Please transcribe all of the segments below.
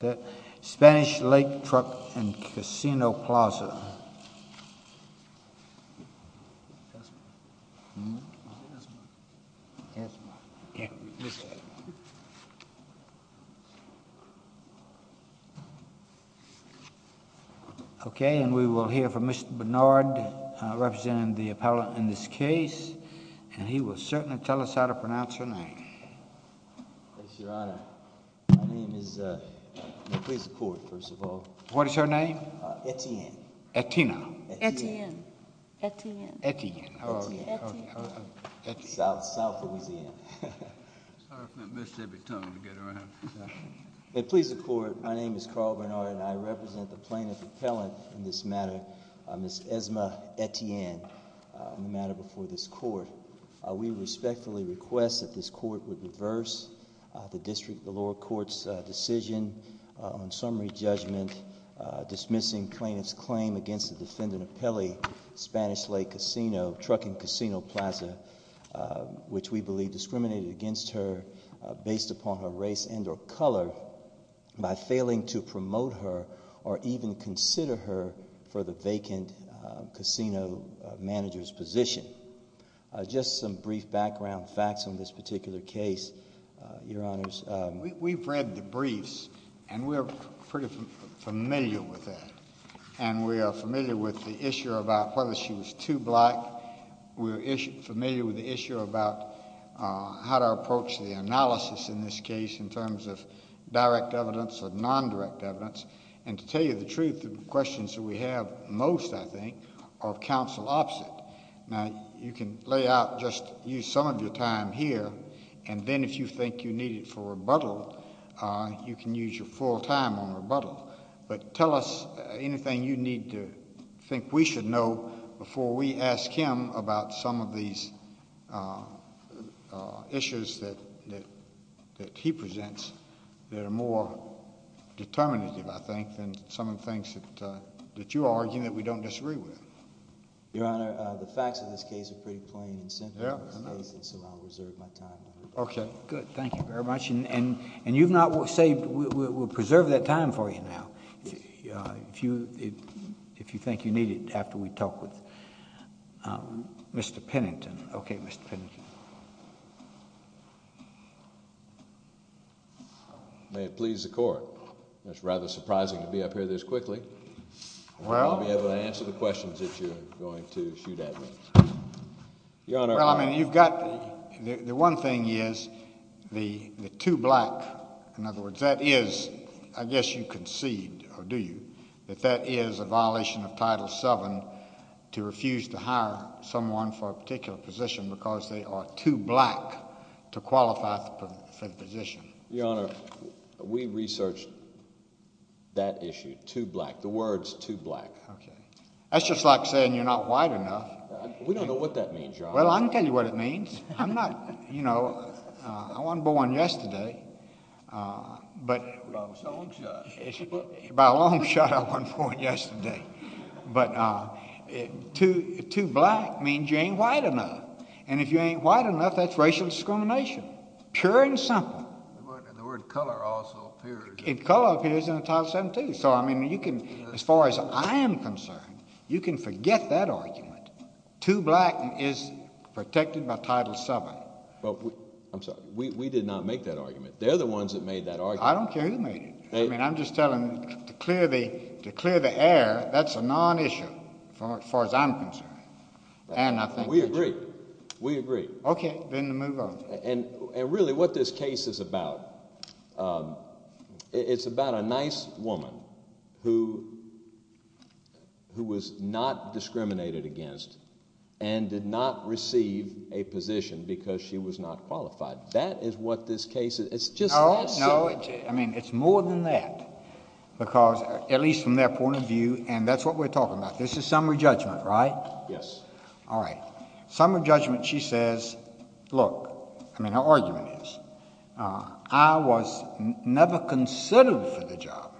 The Spanish Lake Truck & Casino Plaza. Okay, and we will hear from Mr. Bernard, representing the appellant in this case, and he will certainly tell us how to pronounce her name. Yes, Your Honor. My name is—may it please the Court, first of all. What is her name? Etienne. Etienne. Etienne. Etienne. Etienne. How are you? South Louisiana. May it please the Court, my name is Carl Bernard, and I represent the plaintiff appellant in this matter, Ms. Esma Etienne, in the matter before this Court. We respectfully request that this Court would reverse the district, the lower court's decision on summary judgment, dismissing plaintiff's claim against the defendant appellee, Spanish Lake Casino, Truck & Casino Plaza, which we believe discriminated against her based upon her race and or color by failing to promote her or even consider her for the vacant casino manager's position. Just some brief background facts on this particular case, Your Honors. We've read the briefs, and we're pretty familiar with that, and we are familiar with the issue about whether she was too black. We're familiar with the issue about how to approach the analysis in this case in terms of direct evidence or nondirect evidence. And to tell you the truth, the questions that we have most, I think, are counsel opposite. Now, you can lay out just some of your time here, and then if you think you need it for rebuttal, you can use your full time on rebuttal. But tell us anything you need to think we should know before we ask him about some of these issues that he presents that are more determinative, I think, than some of the things that you are arguing that we don't disagree with. Your Honor, the facts of this case are pretty plain and simple, so I'll reserve my time. Okay, good. Thank you very much. And you've not saved... we'll preserve that time for you now if you think you need it after we talk with Mr. Pennington. Okay, Mr. Pennington. May it please the Court. It's rather surprising to be up here this quickly. Well... I won't be able to answer the questions that you're going to shoot at me. Your Honor... Well, I mean, you've got... the one thing is the two black... in other words, that is... I guess you concede, or do you, that that is a violation of Title VII to refuse to hire someone for a particular position because they are too black to qualify for the position. Your Honor, we researched that issue, too black, the words too black. Okay. That's just like saying you're not white enough. We don't know what that means, Your Honor. Well, I can tell you what it means. I'm not... you know, I wasn't born yesterday, but... By a long shot. By a long shot, I wasn't born yesterday. But too black means you ain't white enough, and if you ain't white enough, that's racial discrimination. Pure and simple. And the word color also appears... And color appears in Title VII, too. So, I mean, you can... as far as I am concerned, you can forget that argument. Too black is protected by Title VII. Well, I'm sorry. We did not make that argument. They're the ones that made that argument. I don't care who made it. I mean, I'm just telling... to clear the air, that's a non-issue, as far as I'm concerned. And I think... We agree. We agree. Okay. Well, then move on. And really, what this case is about, it's about a nice woman who was not discriminated against and did not receive a position because she was not qualified. That is what this case is... No, no. I mean, it's more than that, because... at least from their point of view, and that's what we're talking about. This is summary judgment, right? Yes. All right. Summary judgment, she says, look... I mean, her argument is, I was never considered for the job,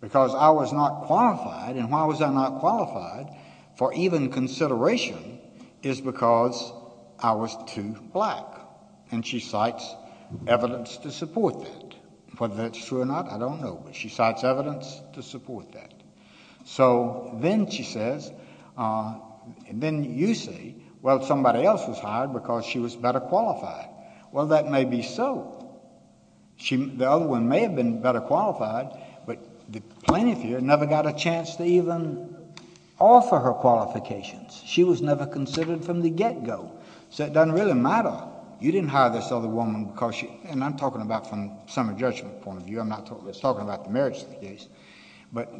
because I was not qualified. And why was I not qualified for even consideration is because I was too black. And she cites evidence to support that. Whether that's true or not, I don't know. But she cites evidence to support that. So then she says... then you say, well, somebody else was hired because she was better qualified. Well, that may be so. The other one may have been better qualified, but the plaintiff here never got a chance to even offer her qualifications. She was never considered from the get-go. So it doesn't really matter. You didn't hire this other woman because she... and I'm talking about from a summary judgment point of view. I'm not talking about the merits of the case. But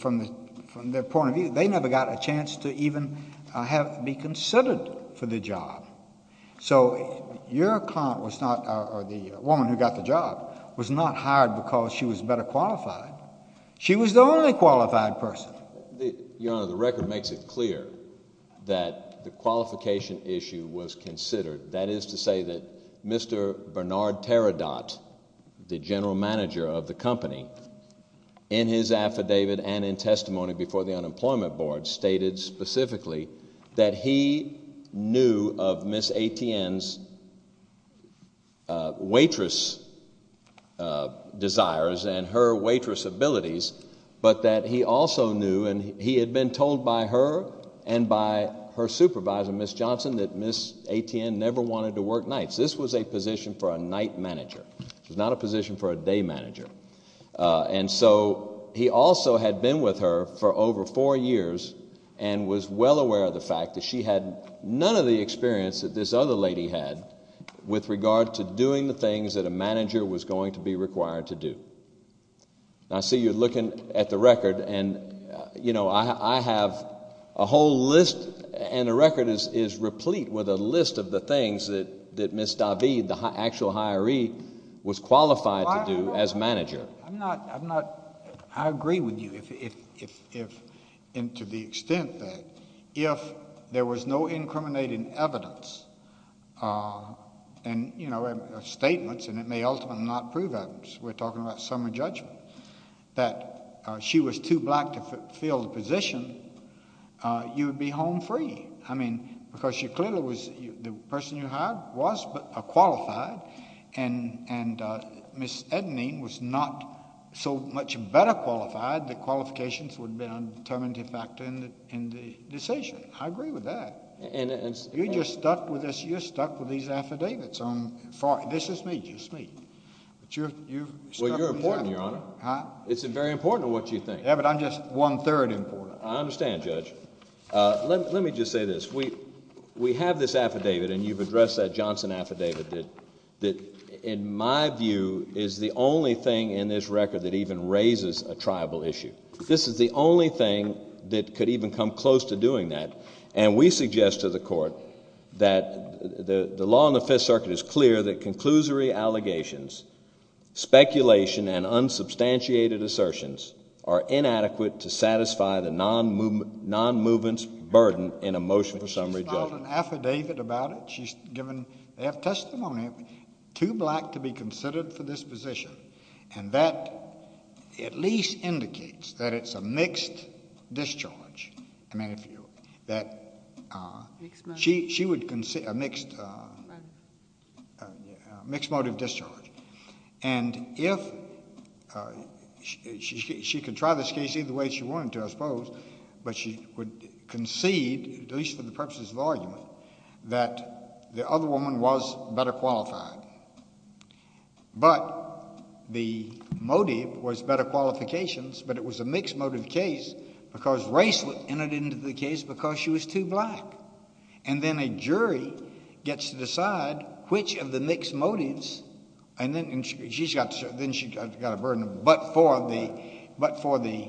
from their point of view, they never got a chance to even be considered for the job. So your client was not... or the woman who got the job was not hired because she was better qualified. She was the only qualified person. Your Honor, the record makes it clear that the qualification issue was considered. That is to say that Mr. Bernard Teredot, the general manager of the company, in his affidavit and in testimony before the Unemployment Board, stated specifically that he knew of Ms. Atien's waitress desires and her waitress abilities, but that he also knew, and he had been told by her and by her supervisor, Ms. Johnson, that Ms. Atien never wanted to work nights. This was a position for a night manager. It was not a position for a day manager. And so he also had been with her for over four years and was well aware of the fact that she had none of the experience that this other lady had with regard to doing the things that a manager was going to be required to do. I see you're looking at the record and, you know, I have a whole list and the record is replete with a list of the things that Ms. Davide, the actual hiree, was qualified to do as manager. I'm not... I agree with you to the extent that if there was no incriminating evidence and, you know, statements, and it may ultimately not prove evidence. We're talking about summer judgment. That she was too black to fill the position, you would be home free. I mean, because she clearly was... the person you hired was qualified and Ms. Ednene was not so much better qualified that qualifications would have been a determinative factor in the decision. I agree with that. And... You're just stuck with this. You're stuck with these affidavits. This is me. This is me. But you're... Well, you're important, Your Honor. Huh? It's very important what you think. Yeah, but I'm just one-third important. I understand, Judge. Let me just say this. We have this affidavit and you've addressed that Johnson affidavit that, in my view, is the only thing in this record that even raises a tribal issue. This is the only thing that could even come close to doing that and we suggest to the Court that the law in the Fifth Circuit is clear that conclusory allegations, speculation, and unsubstantiated assertions are inadequate to satisfy the non-movement's burden in a motion for summary judgment. She's filed an affidavit about it. They have testimony of it. Too black to be considered for this position and that at least indicates that it's a mixed discharge, that she would concede a mixed motive discharge. And if she could try this case either way she wanted to, I suppose, but she would concede, at least for the purposes of argument, that the other woman was better qualified. But the motive was better qualifications, but it was a mixed motive case because race entered into the case because she was too black. And then a jury gets to decide which of the mixed motives, and then she's got a burden, but for the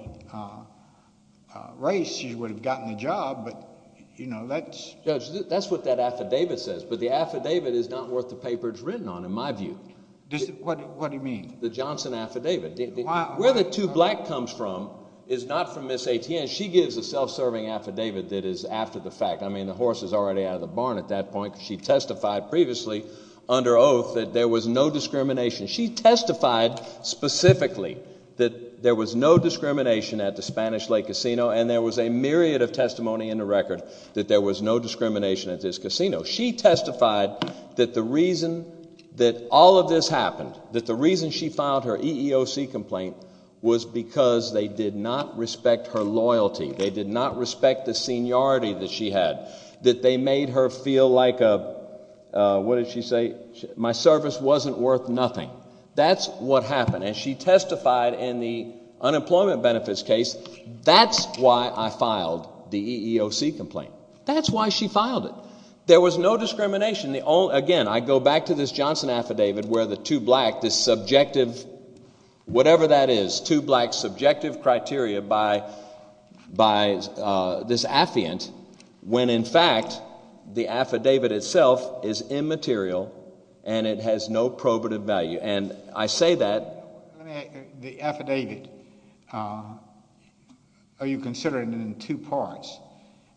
race she would have gotten the job. Judge, that's what that affidavit says, but the affidavit is not worth the paper it's written on, in my view. What do you mean? The Johnson affidavit. Where the too black comes from is not from Ms. Etienne. She gives a self-serving affidavit that is after the fact. I mean the horse is already out of the barn at that point because she testified previously under oath that there was no discrimination. She testified specifically that there was no discrimination at the Spanish Lake Casino and there was a myriad of testimony in the record that there was no discrimination at this casino. She testified that the reason that all of this happened, that the reason she filed her EEOC complaint was because they did not respect her loyalty. They did not respect the seniority that she had, that they made her feel like a, what did she say, my service wasn't worth nothing. That's what happened, and she testified in the unemployment benefits case, that's why I filed the EEOC complaint. That's why she filed it. There was no discrimination. Again, I go back to this Johnson affidavit where the too black, this subjective, whatever that is, too black subjective criteria by this affiant when in fact the affidavit itself is immaterial and it has no probative value. And I say that. The affidavit, are you considering it in two parts?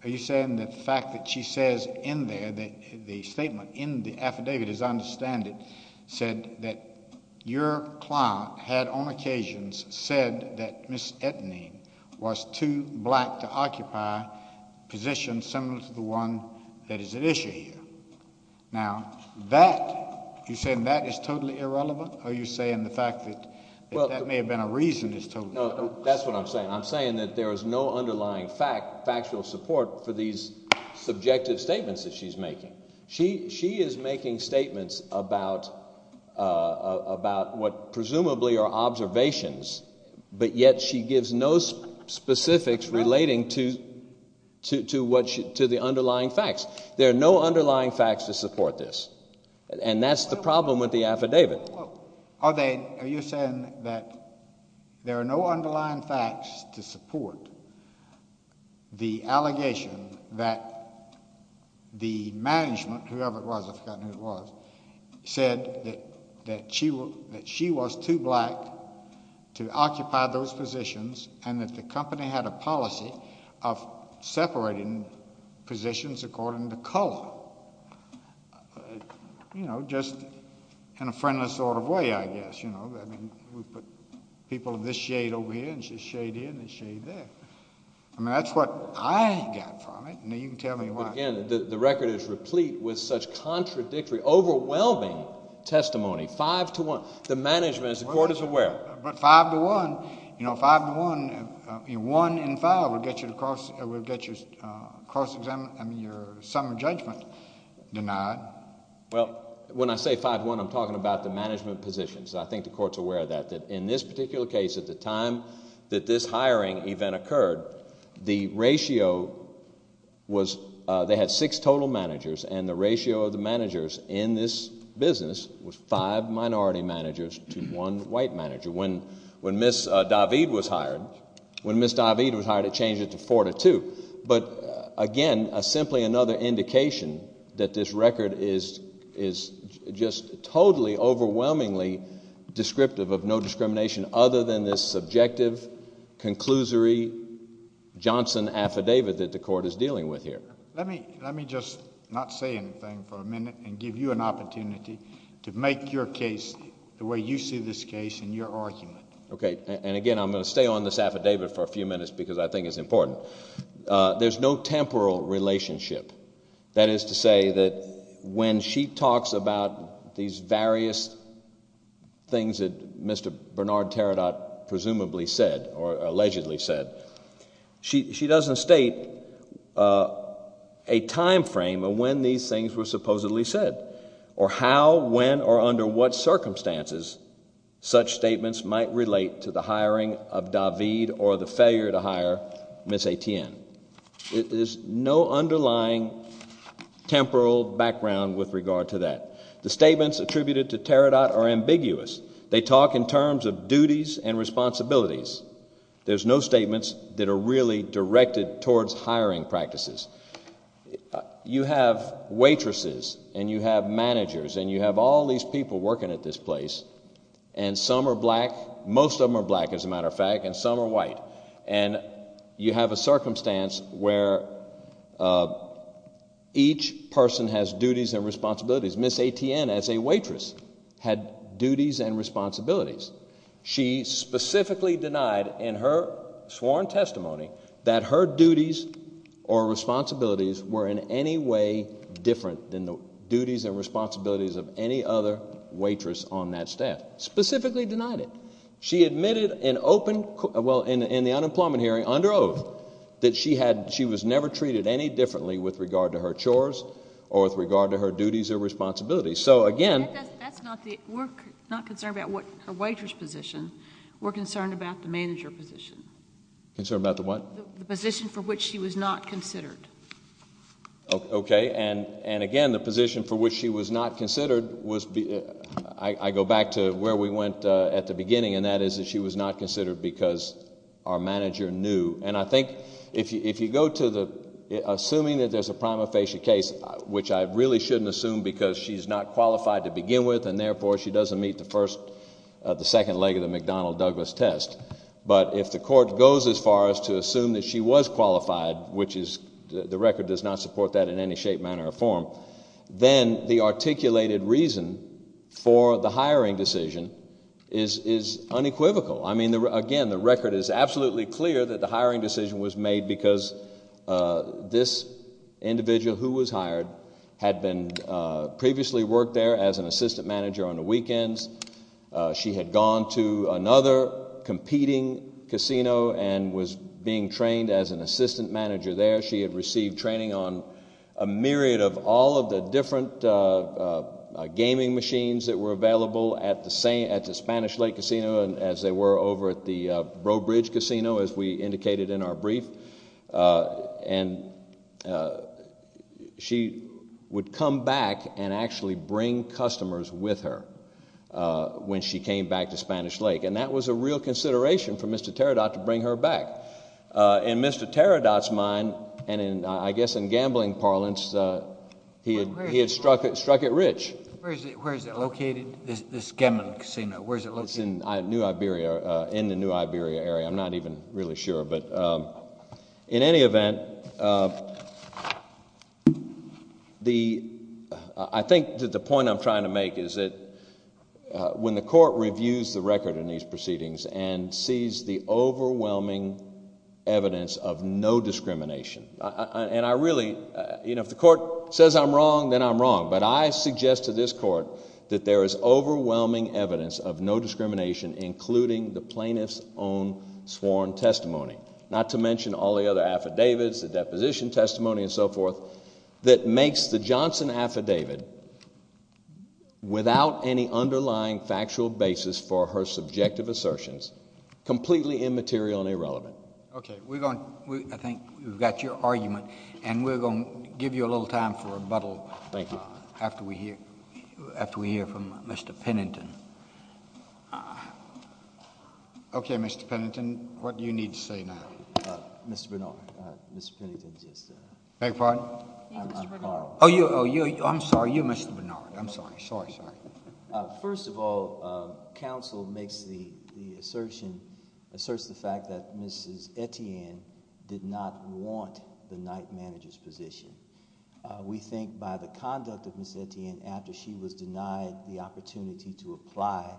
Are you saying that the fact that she says in there, the statement in the affidavit as I understand it, said that your client had on occasions said that Ms. Ettinger was too black to occupy positions similar to the one that is at issue here. Now, that, you're saying that is totally irrelevant? Are you saying the fact that that may have been a reason is totally irrelevant? No, that's what I'm saying. I'm saying that there is no underlying factual support for these subjective statements that she's making. She is making statements about what presumably are observations, but yet she gives no specifics relating to the underlying facts. There are no underlying facts to support this, and that's the problem with the affidavit. Are you saying that there are no underlying facts to support the allegation that the management, whoever it was, I've forgotten who it was, said that she was too black to occupy those positions and that the company had a policy of separating positions according to color? You know, just in a friendless sort of way, I guess. You know, I mean, we put people of this shade over here and this shade here and this shade there. I mean, that's what I got from it, and you can tell me why. Again, the record is replete with such contradictory, overwhelming testimony. Five to one. The management, as the Court is aware. But five to one, you know, five to one, one in five will get your cross-examination, I mean your sum of judgment denied. Well, when I say five to one, I'm talking about the management positions. I think the Court's aware of that, that in this particular case, at the time that this hiring event occurred, the ratio was they had six total managers, and the ratio of the managers in this business was five minority managers to one white manager. When Ms. David was hired, when Ms. David was hired, it changed it to four to two. But again, simply another indication that this record is just totally overwhelmingly descriptive of no discrimination other than this subjective, conclusory Johnson affidavit that the Court is dealing with here. And give you an opportunity to make your case the way you see this case in your argument. Okay. And again, I'm going to stay on this affidavit for a few minutes because I think it's important. There's no temporal relationship. That is to say that when she talks about these various things that Mr. Bernard Teredot presumably said or allegedly said, she doesn't state a time frame of when these things were supposedly said or how, when, or under what circumstances such statements might relate to the hiring of David or the failure to hire Ms. Etienne. There's no underlying temporal background with regard to that. The statements attributed to Teredot are ambiguous. They talk in terms of duties and responsibilities. There's no statements that are really directed towards hiring practices. You have waitresses and you have managers and you have all these people working at this place, and some are black, most of them are black as a matter of fact, and some are white. And you have a circumstance where each person has duties and responsibilities. Ms. Etienne, as a waitress, had duties and responsibilities. She specifically denied in her sworn testimony that her duties or responsibilities were in any way different than the duties and responsibilities of any other waitress on that staff. Specifically denied it. She admitted in open, well, in the unemployment hearing, under oath, that she was never treated any differently with regard to her chores or with regard to her duties or responsibilities. So again... We're not concerned about her waitress position. We're concerned about the manager position. Concerned about the what? The position for which she was not considered. Okay. And again, the position for which she was not considered was... I go back to where we went at the beginning, and that is that she was not considered because our manager knew. And I think if you go to the... assuming that there's a prima facie case, which I really shouldn't assume because she's not qualified to begin with, and therefore she doesn't meet the first... the second leg of the McDonnell-Douglas test. But if the court goes as far as to assume that she was qualified, which is... the record does not support that in any shape, manner, or form, then the articulated reason for the hiring decision is unequivocal. I mean, again, the record is absolutely clear that the hiring decision was made because this individual who was hired had been... previously worked there as an assistant manager on the weekends. She had gone to another competing casino and was being trained as an assistant manager there. She had received training on a myriad of all of the different gaming machines that were available at the Spanish Lake Casino as they were over at the Broadbridge Casino, as we indicated in our brief. She would come back and actually bring customers with her when she came back to Spanish Lake, and that was a real consideration for Mr. Teredot to bring her back. In Mr. Teredot's mind, and I guess in gambling parlance, he had struck it rich. Where is it located, this gambling casino? It's in New Iberia, in the New Iberia area. I'm not even really sure, but in any event, I think that the point I'm trying to make is that when the court reviews the record in these proceedings and sees the overwhelming evidence of no discrimination, and I really... you know, if the court says I'm wrong, then I'm wrong, but I suggest to this court that there is overwhelming evidence of no discrimination, including the plaintiff's own sworn testimony, not to mention all the other affidavits, the deposition testimony and so forth, that makes the Johnson affidavit without any underlying factual basis for her subjective assertions completely immaterial and irrelevant. Okay. I think we've got your argument, and we're going to give you a little time for rebuttal. Thank you. After we hear from Mr. Pennington. Okay, Mr. Pennington, what do you need to say now? Mr. Bernard, Mr. Pennington just... Beg your pardon? Mr. Bernard. Oh, I'm sorry. You, Mr. Bernard. I'm sorry. Sorry, sorry. First of all, counsel makes the assertion, asserts the fact that Mrs. Etienne did not want the night manager's position. We think by the conduct of Ms. Etienne after she was denied the opportunity to apply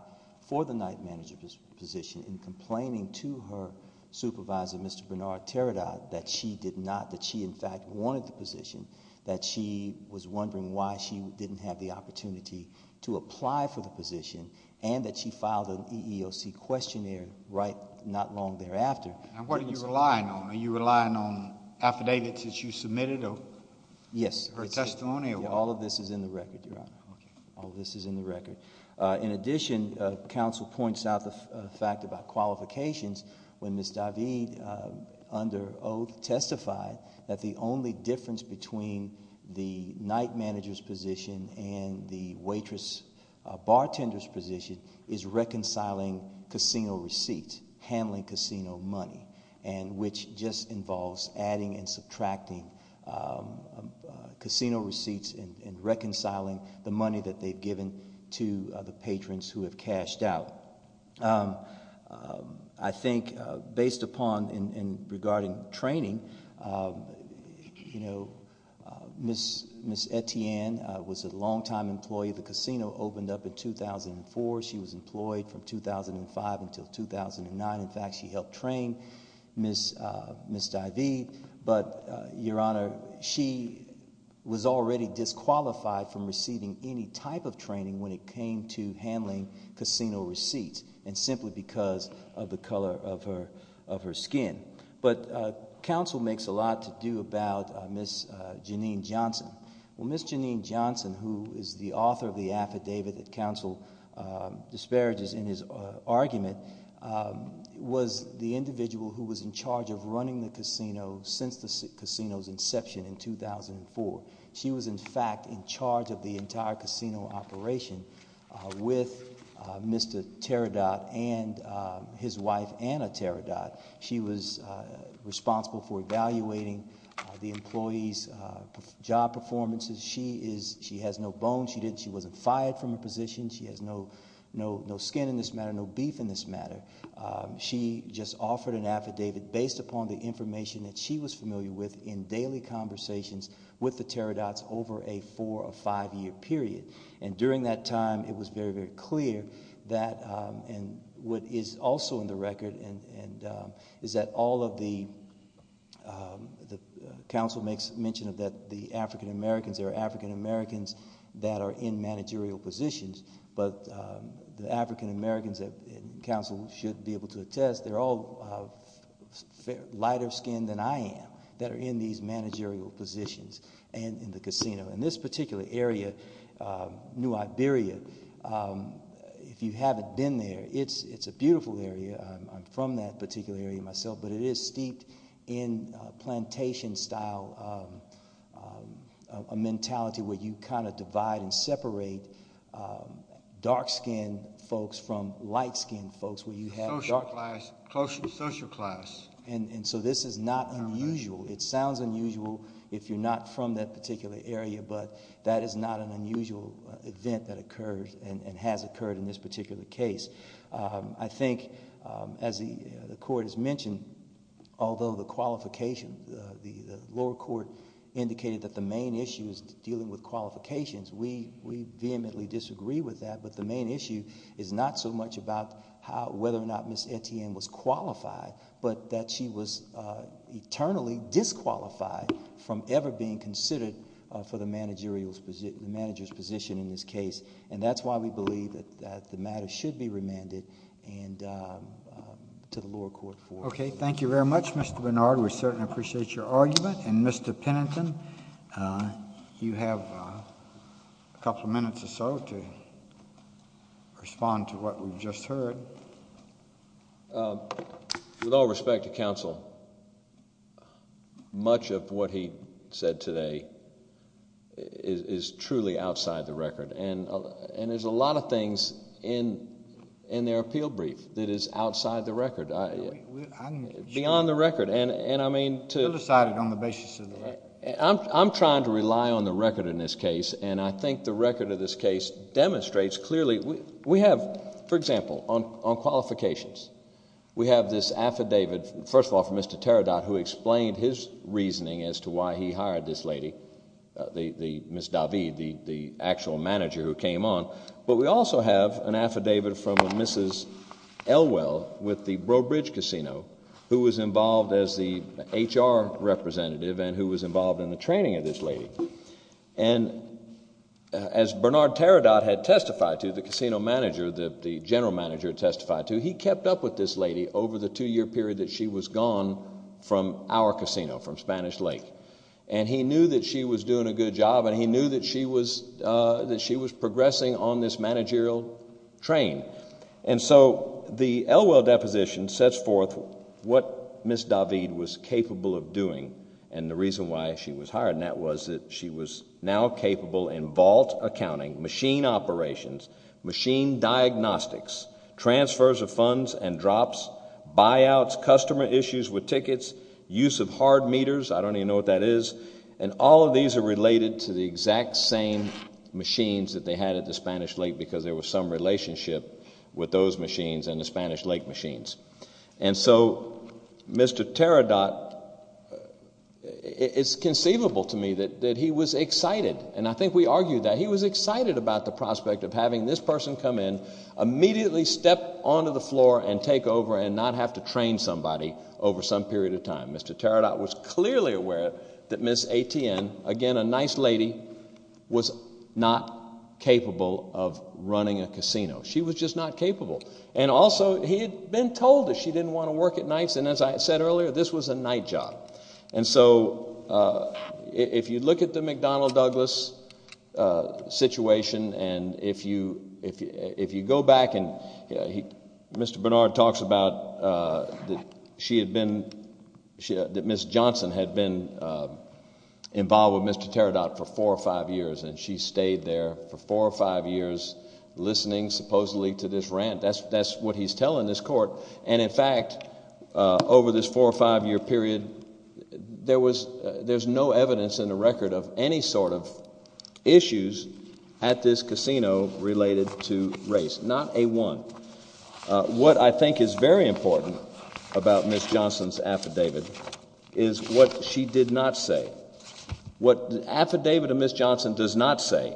for the night manager's position and complaining to her supervisor, Mr. Bernard Teredot, that she did not, that she, in fact, wanted the position, that she was wondering why she didn't have the opportunity to apply for the position and that she filed an EEOC questionnaire not long thereafter. Now, what are you relying on? Are you relying on affidavits that you submitted or... Yes.... or a testimony or what? All of this is in the record, Your Honor. Okay. All of this is in the record. In addition, counsel points out the fact about qualifications when Ms. David, under oath, testified that the only difference between the night manager's position and the waitress bartender's position is reconciling casino receipts, handling casino money, and which just involves adding and subtracting casino receipts and reconciling the money that they've given to the patrons who have cashed out. I think based upon and regarding training, you know, Ms. Etienne was a longtime employee. The casino opened up in 2004. She was employed from 2005 until 2009. In fact, she helped train Ms. David. But, Your Honor, she was already disqualified from receiving any type of training when it came to handling casino receipts and simply because of the color of her skin. But counsel makes a lot to do about Ms. Janine Johnson. Well, Ms. Janine Johnson, who is the author of the affidavit that counsel disparages in his argument, was the individual who was in charge of running the casino since the casino's inception in 2004. She was, in fact, in charge of the entire casino operation with Mr. Teredot and his wife, Anna Teredot. She was responsible for evaluating the employees' job performances. She has no bones. She wasn't fired from her position. She has no skin in this matter, no beef in this matter. She just offered an affidavit based upon the information that she was familiar with in daily conversations with the Teredots over a four- or five-year period. And during that time, it was very, very clear that what is also in the record is that all of the—counsel makes mention of the African-Americans. There are African-Americans that are in managerial positions, but the African-Americans that counsel should be able to attest, they're all lighter-skinned than I am that are in these managerial positions and in the casino. In this particular area, New Iberia, if you haven't been there, it's a beautiful area. I'm from that particular area myself, but it is steeped in plantation-style mentality where you kind of divide and separate dark-skinned folks from light-skinned folks where you have dark— Closer to social class. And so this is not unusual. It sounds unusual if you're not from that particular area, but that is not an unusual event that occurs and has occurred in this particular case. I think, as the Court has mentioned, although the lower court indicated that the main issue is dealing with qualifications, we vehemently disagree with that, but the main issue is not so much about whether or not Ms. Etienne was qualified, but that she was eternally disqualified from ever being considered for the manager's position in this case, and that's why we believe that the matter should be remanded to the lower court. Okay. Thank you very much, Mr. Bernard. We certainly appreciate your argument, and Mr. Pennington, you have a couple of minutes or so to respond to what we've just heard. Mr. Chairman, with all respect to counsel, much of what he said today is truly outside the record, and there's a lot of things in their appeal brief that is outside the record, beyond the record, and I mean to— We'll decide it on the basis of the record. I'm trying to rely on the record in this case, and I think the record of this case demonstrates clearly. We have, for example, on qualifications, we have this affidavit, first of all, from Mr. Teredot, who explained his reasoning as to why he hired this lady, Ms. David, the actual manager who came on, but we also have an affidavit from Mrs. Elwell with the Broadbridge Casino, who was involved as the HR representative and who was involved in the training of this lady, and as Bernard Teredot had testified to, the casino manager, the general manager testified to, he kept up with this lady over the two-year period that she was gone from our casino, from Spanish Lake, and he knew that she was doing a good job, and he knew that she was progressing on this managerial train, and so the Elwell deposition sets forth what Ms. David was capable of doing, and the reason why she was hired in that was that she was now capable in vault accounting, machine operations, machine diagnostics, transfers of funds and drops, buyouts, customer issues with tickets, use of hard meters, I don't even know what that is, and all of these are related to the exact same machines that they had at the Spanish Lake because there was some relationship with those machines and the Spanish Lake machines. And so Mr. Teredot, it's conceivable to me that he was excited, and I think we argued that he was excited about the prospect of having this person come in, immediately step onto the floor and take over and not have to train somebody over some period of time. Mr. Teredot was clearly aware that Ms. Etienne, again, a nice lady, was not capable of running a casino. She was just not capable, and also he had been told that she didn't want to work at nights, and as I said earlier, this was a night job. And so if you look at the McDonnell Douglas situation, and if you go back, and Mr. Bernard talks about that Ms. Johnson had been involved with Mr. Teredot for four or five years, and she stayed there for four or five years listening supposedly to this rant. That's what he's telling this court, and in fact, over this four or five year period, there's no evidence in the record of any sort of issues at this casino related to race, not a one. What I think is very important about Ms. Johnson's affidavit is what she did not say. What the affidavit of Ms. Johnson does not say,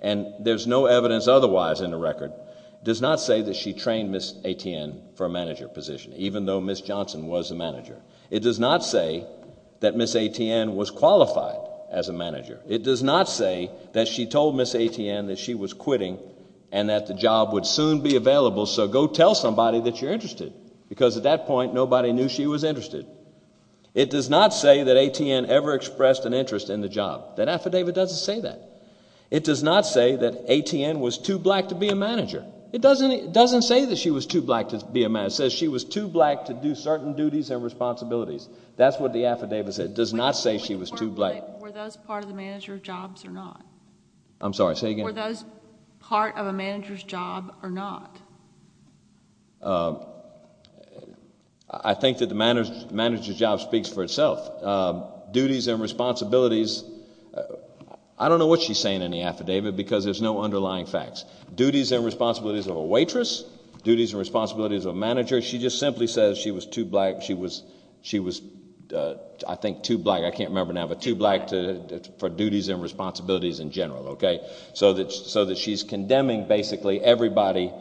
and there's no evidence otherwise in the record, does not say that she trained Ms. Etienne for a manager position, even though Ms. Johnson was a manager. It does not say that Ms. Etienne was qualified as a manager. It does not say that she told Ms. Etienne that she was quitting and that the job would soon be available, so go tell somebody that you're interested, because at that point, nobody knew she was interested. It does not say that Etienne ever expressed an interest in the job. That affidavit doesn't say that. It does not say that Etienne was too black to be a manager. It doesn't say that she was too black to be a manager. It says she was too black to do certain duties and responsibilities. That's what the affidavit said. It does not say she was too black. Were those part of the manager's jobs or not? I'm sorry, say again. Were those part of a manager's job or not? I think that the manager's job speaks for itself. Duties and responsibilities, I don't know what she's saying in the affidavit because there's no underlying facts. Duties and responsibilities of a waitress, duties and responsibilities of a manager, she just simply says she was too black. She was, I think, too black. I can't remember now, but too black for duties and responsibilities in general, okay, so that she's condemning basically everybody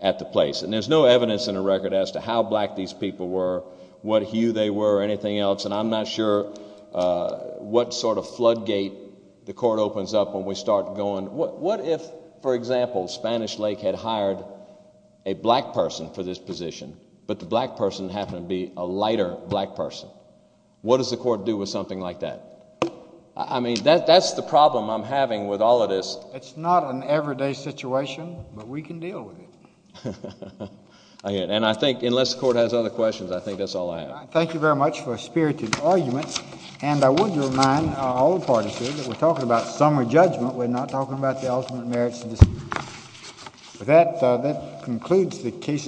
at the place, and there's no evidence in the record as to how black these people were, what hue they were or anything else, and I'm not sure what sort of floodgate the court opens up when we start going, what if, for example, Spanish Lake had hired a black person for this position, but the black person happened to be a lighter black person? What does the court do with something like that? I mean, that's the problem I'm having with all of this. It's not an everyday situation, but we can deal with it. And I think unless the court has other questions, I think that's all I have. Thank you very much for a spirited argument, and I want to remind all the parties here that we're talking about summary judgment. We're not talking about the ultimate merits. That concludes the case.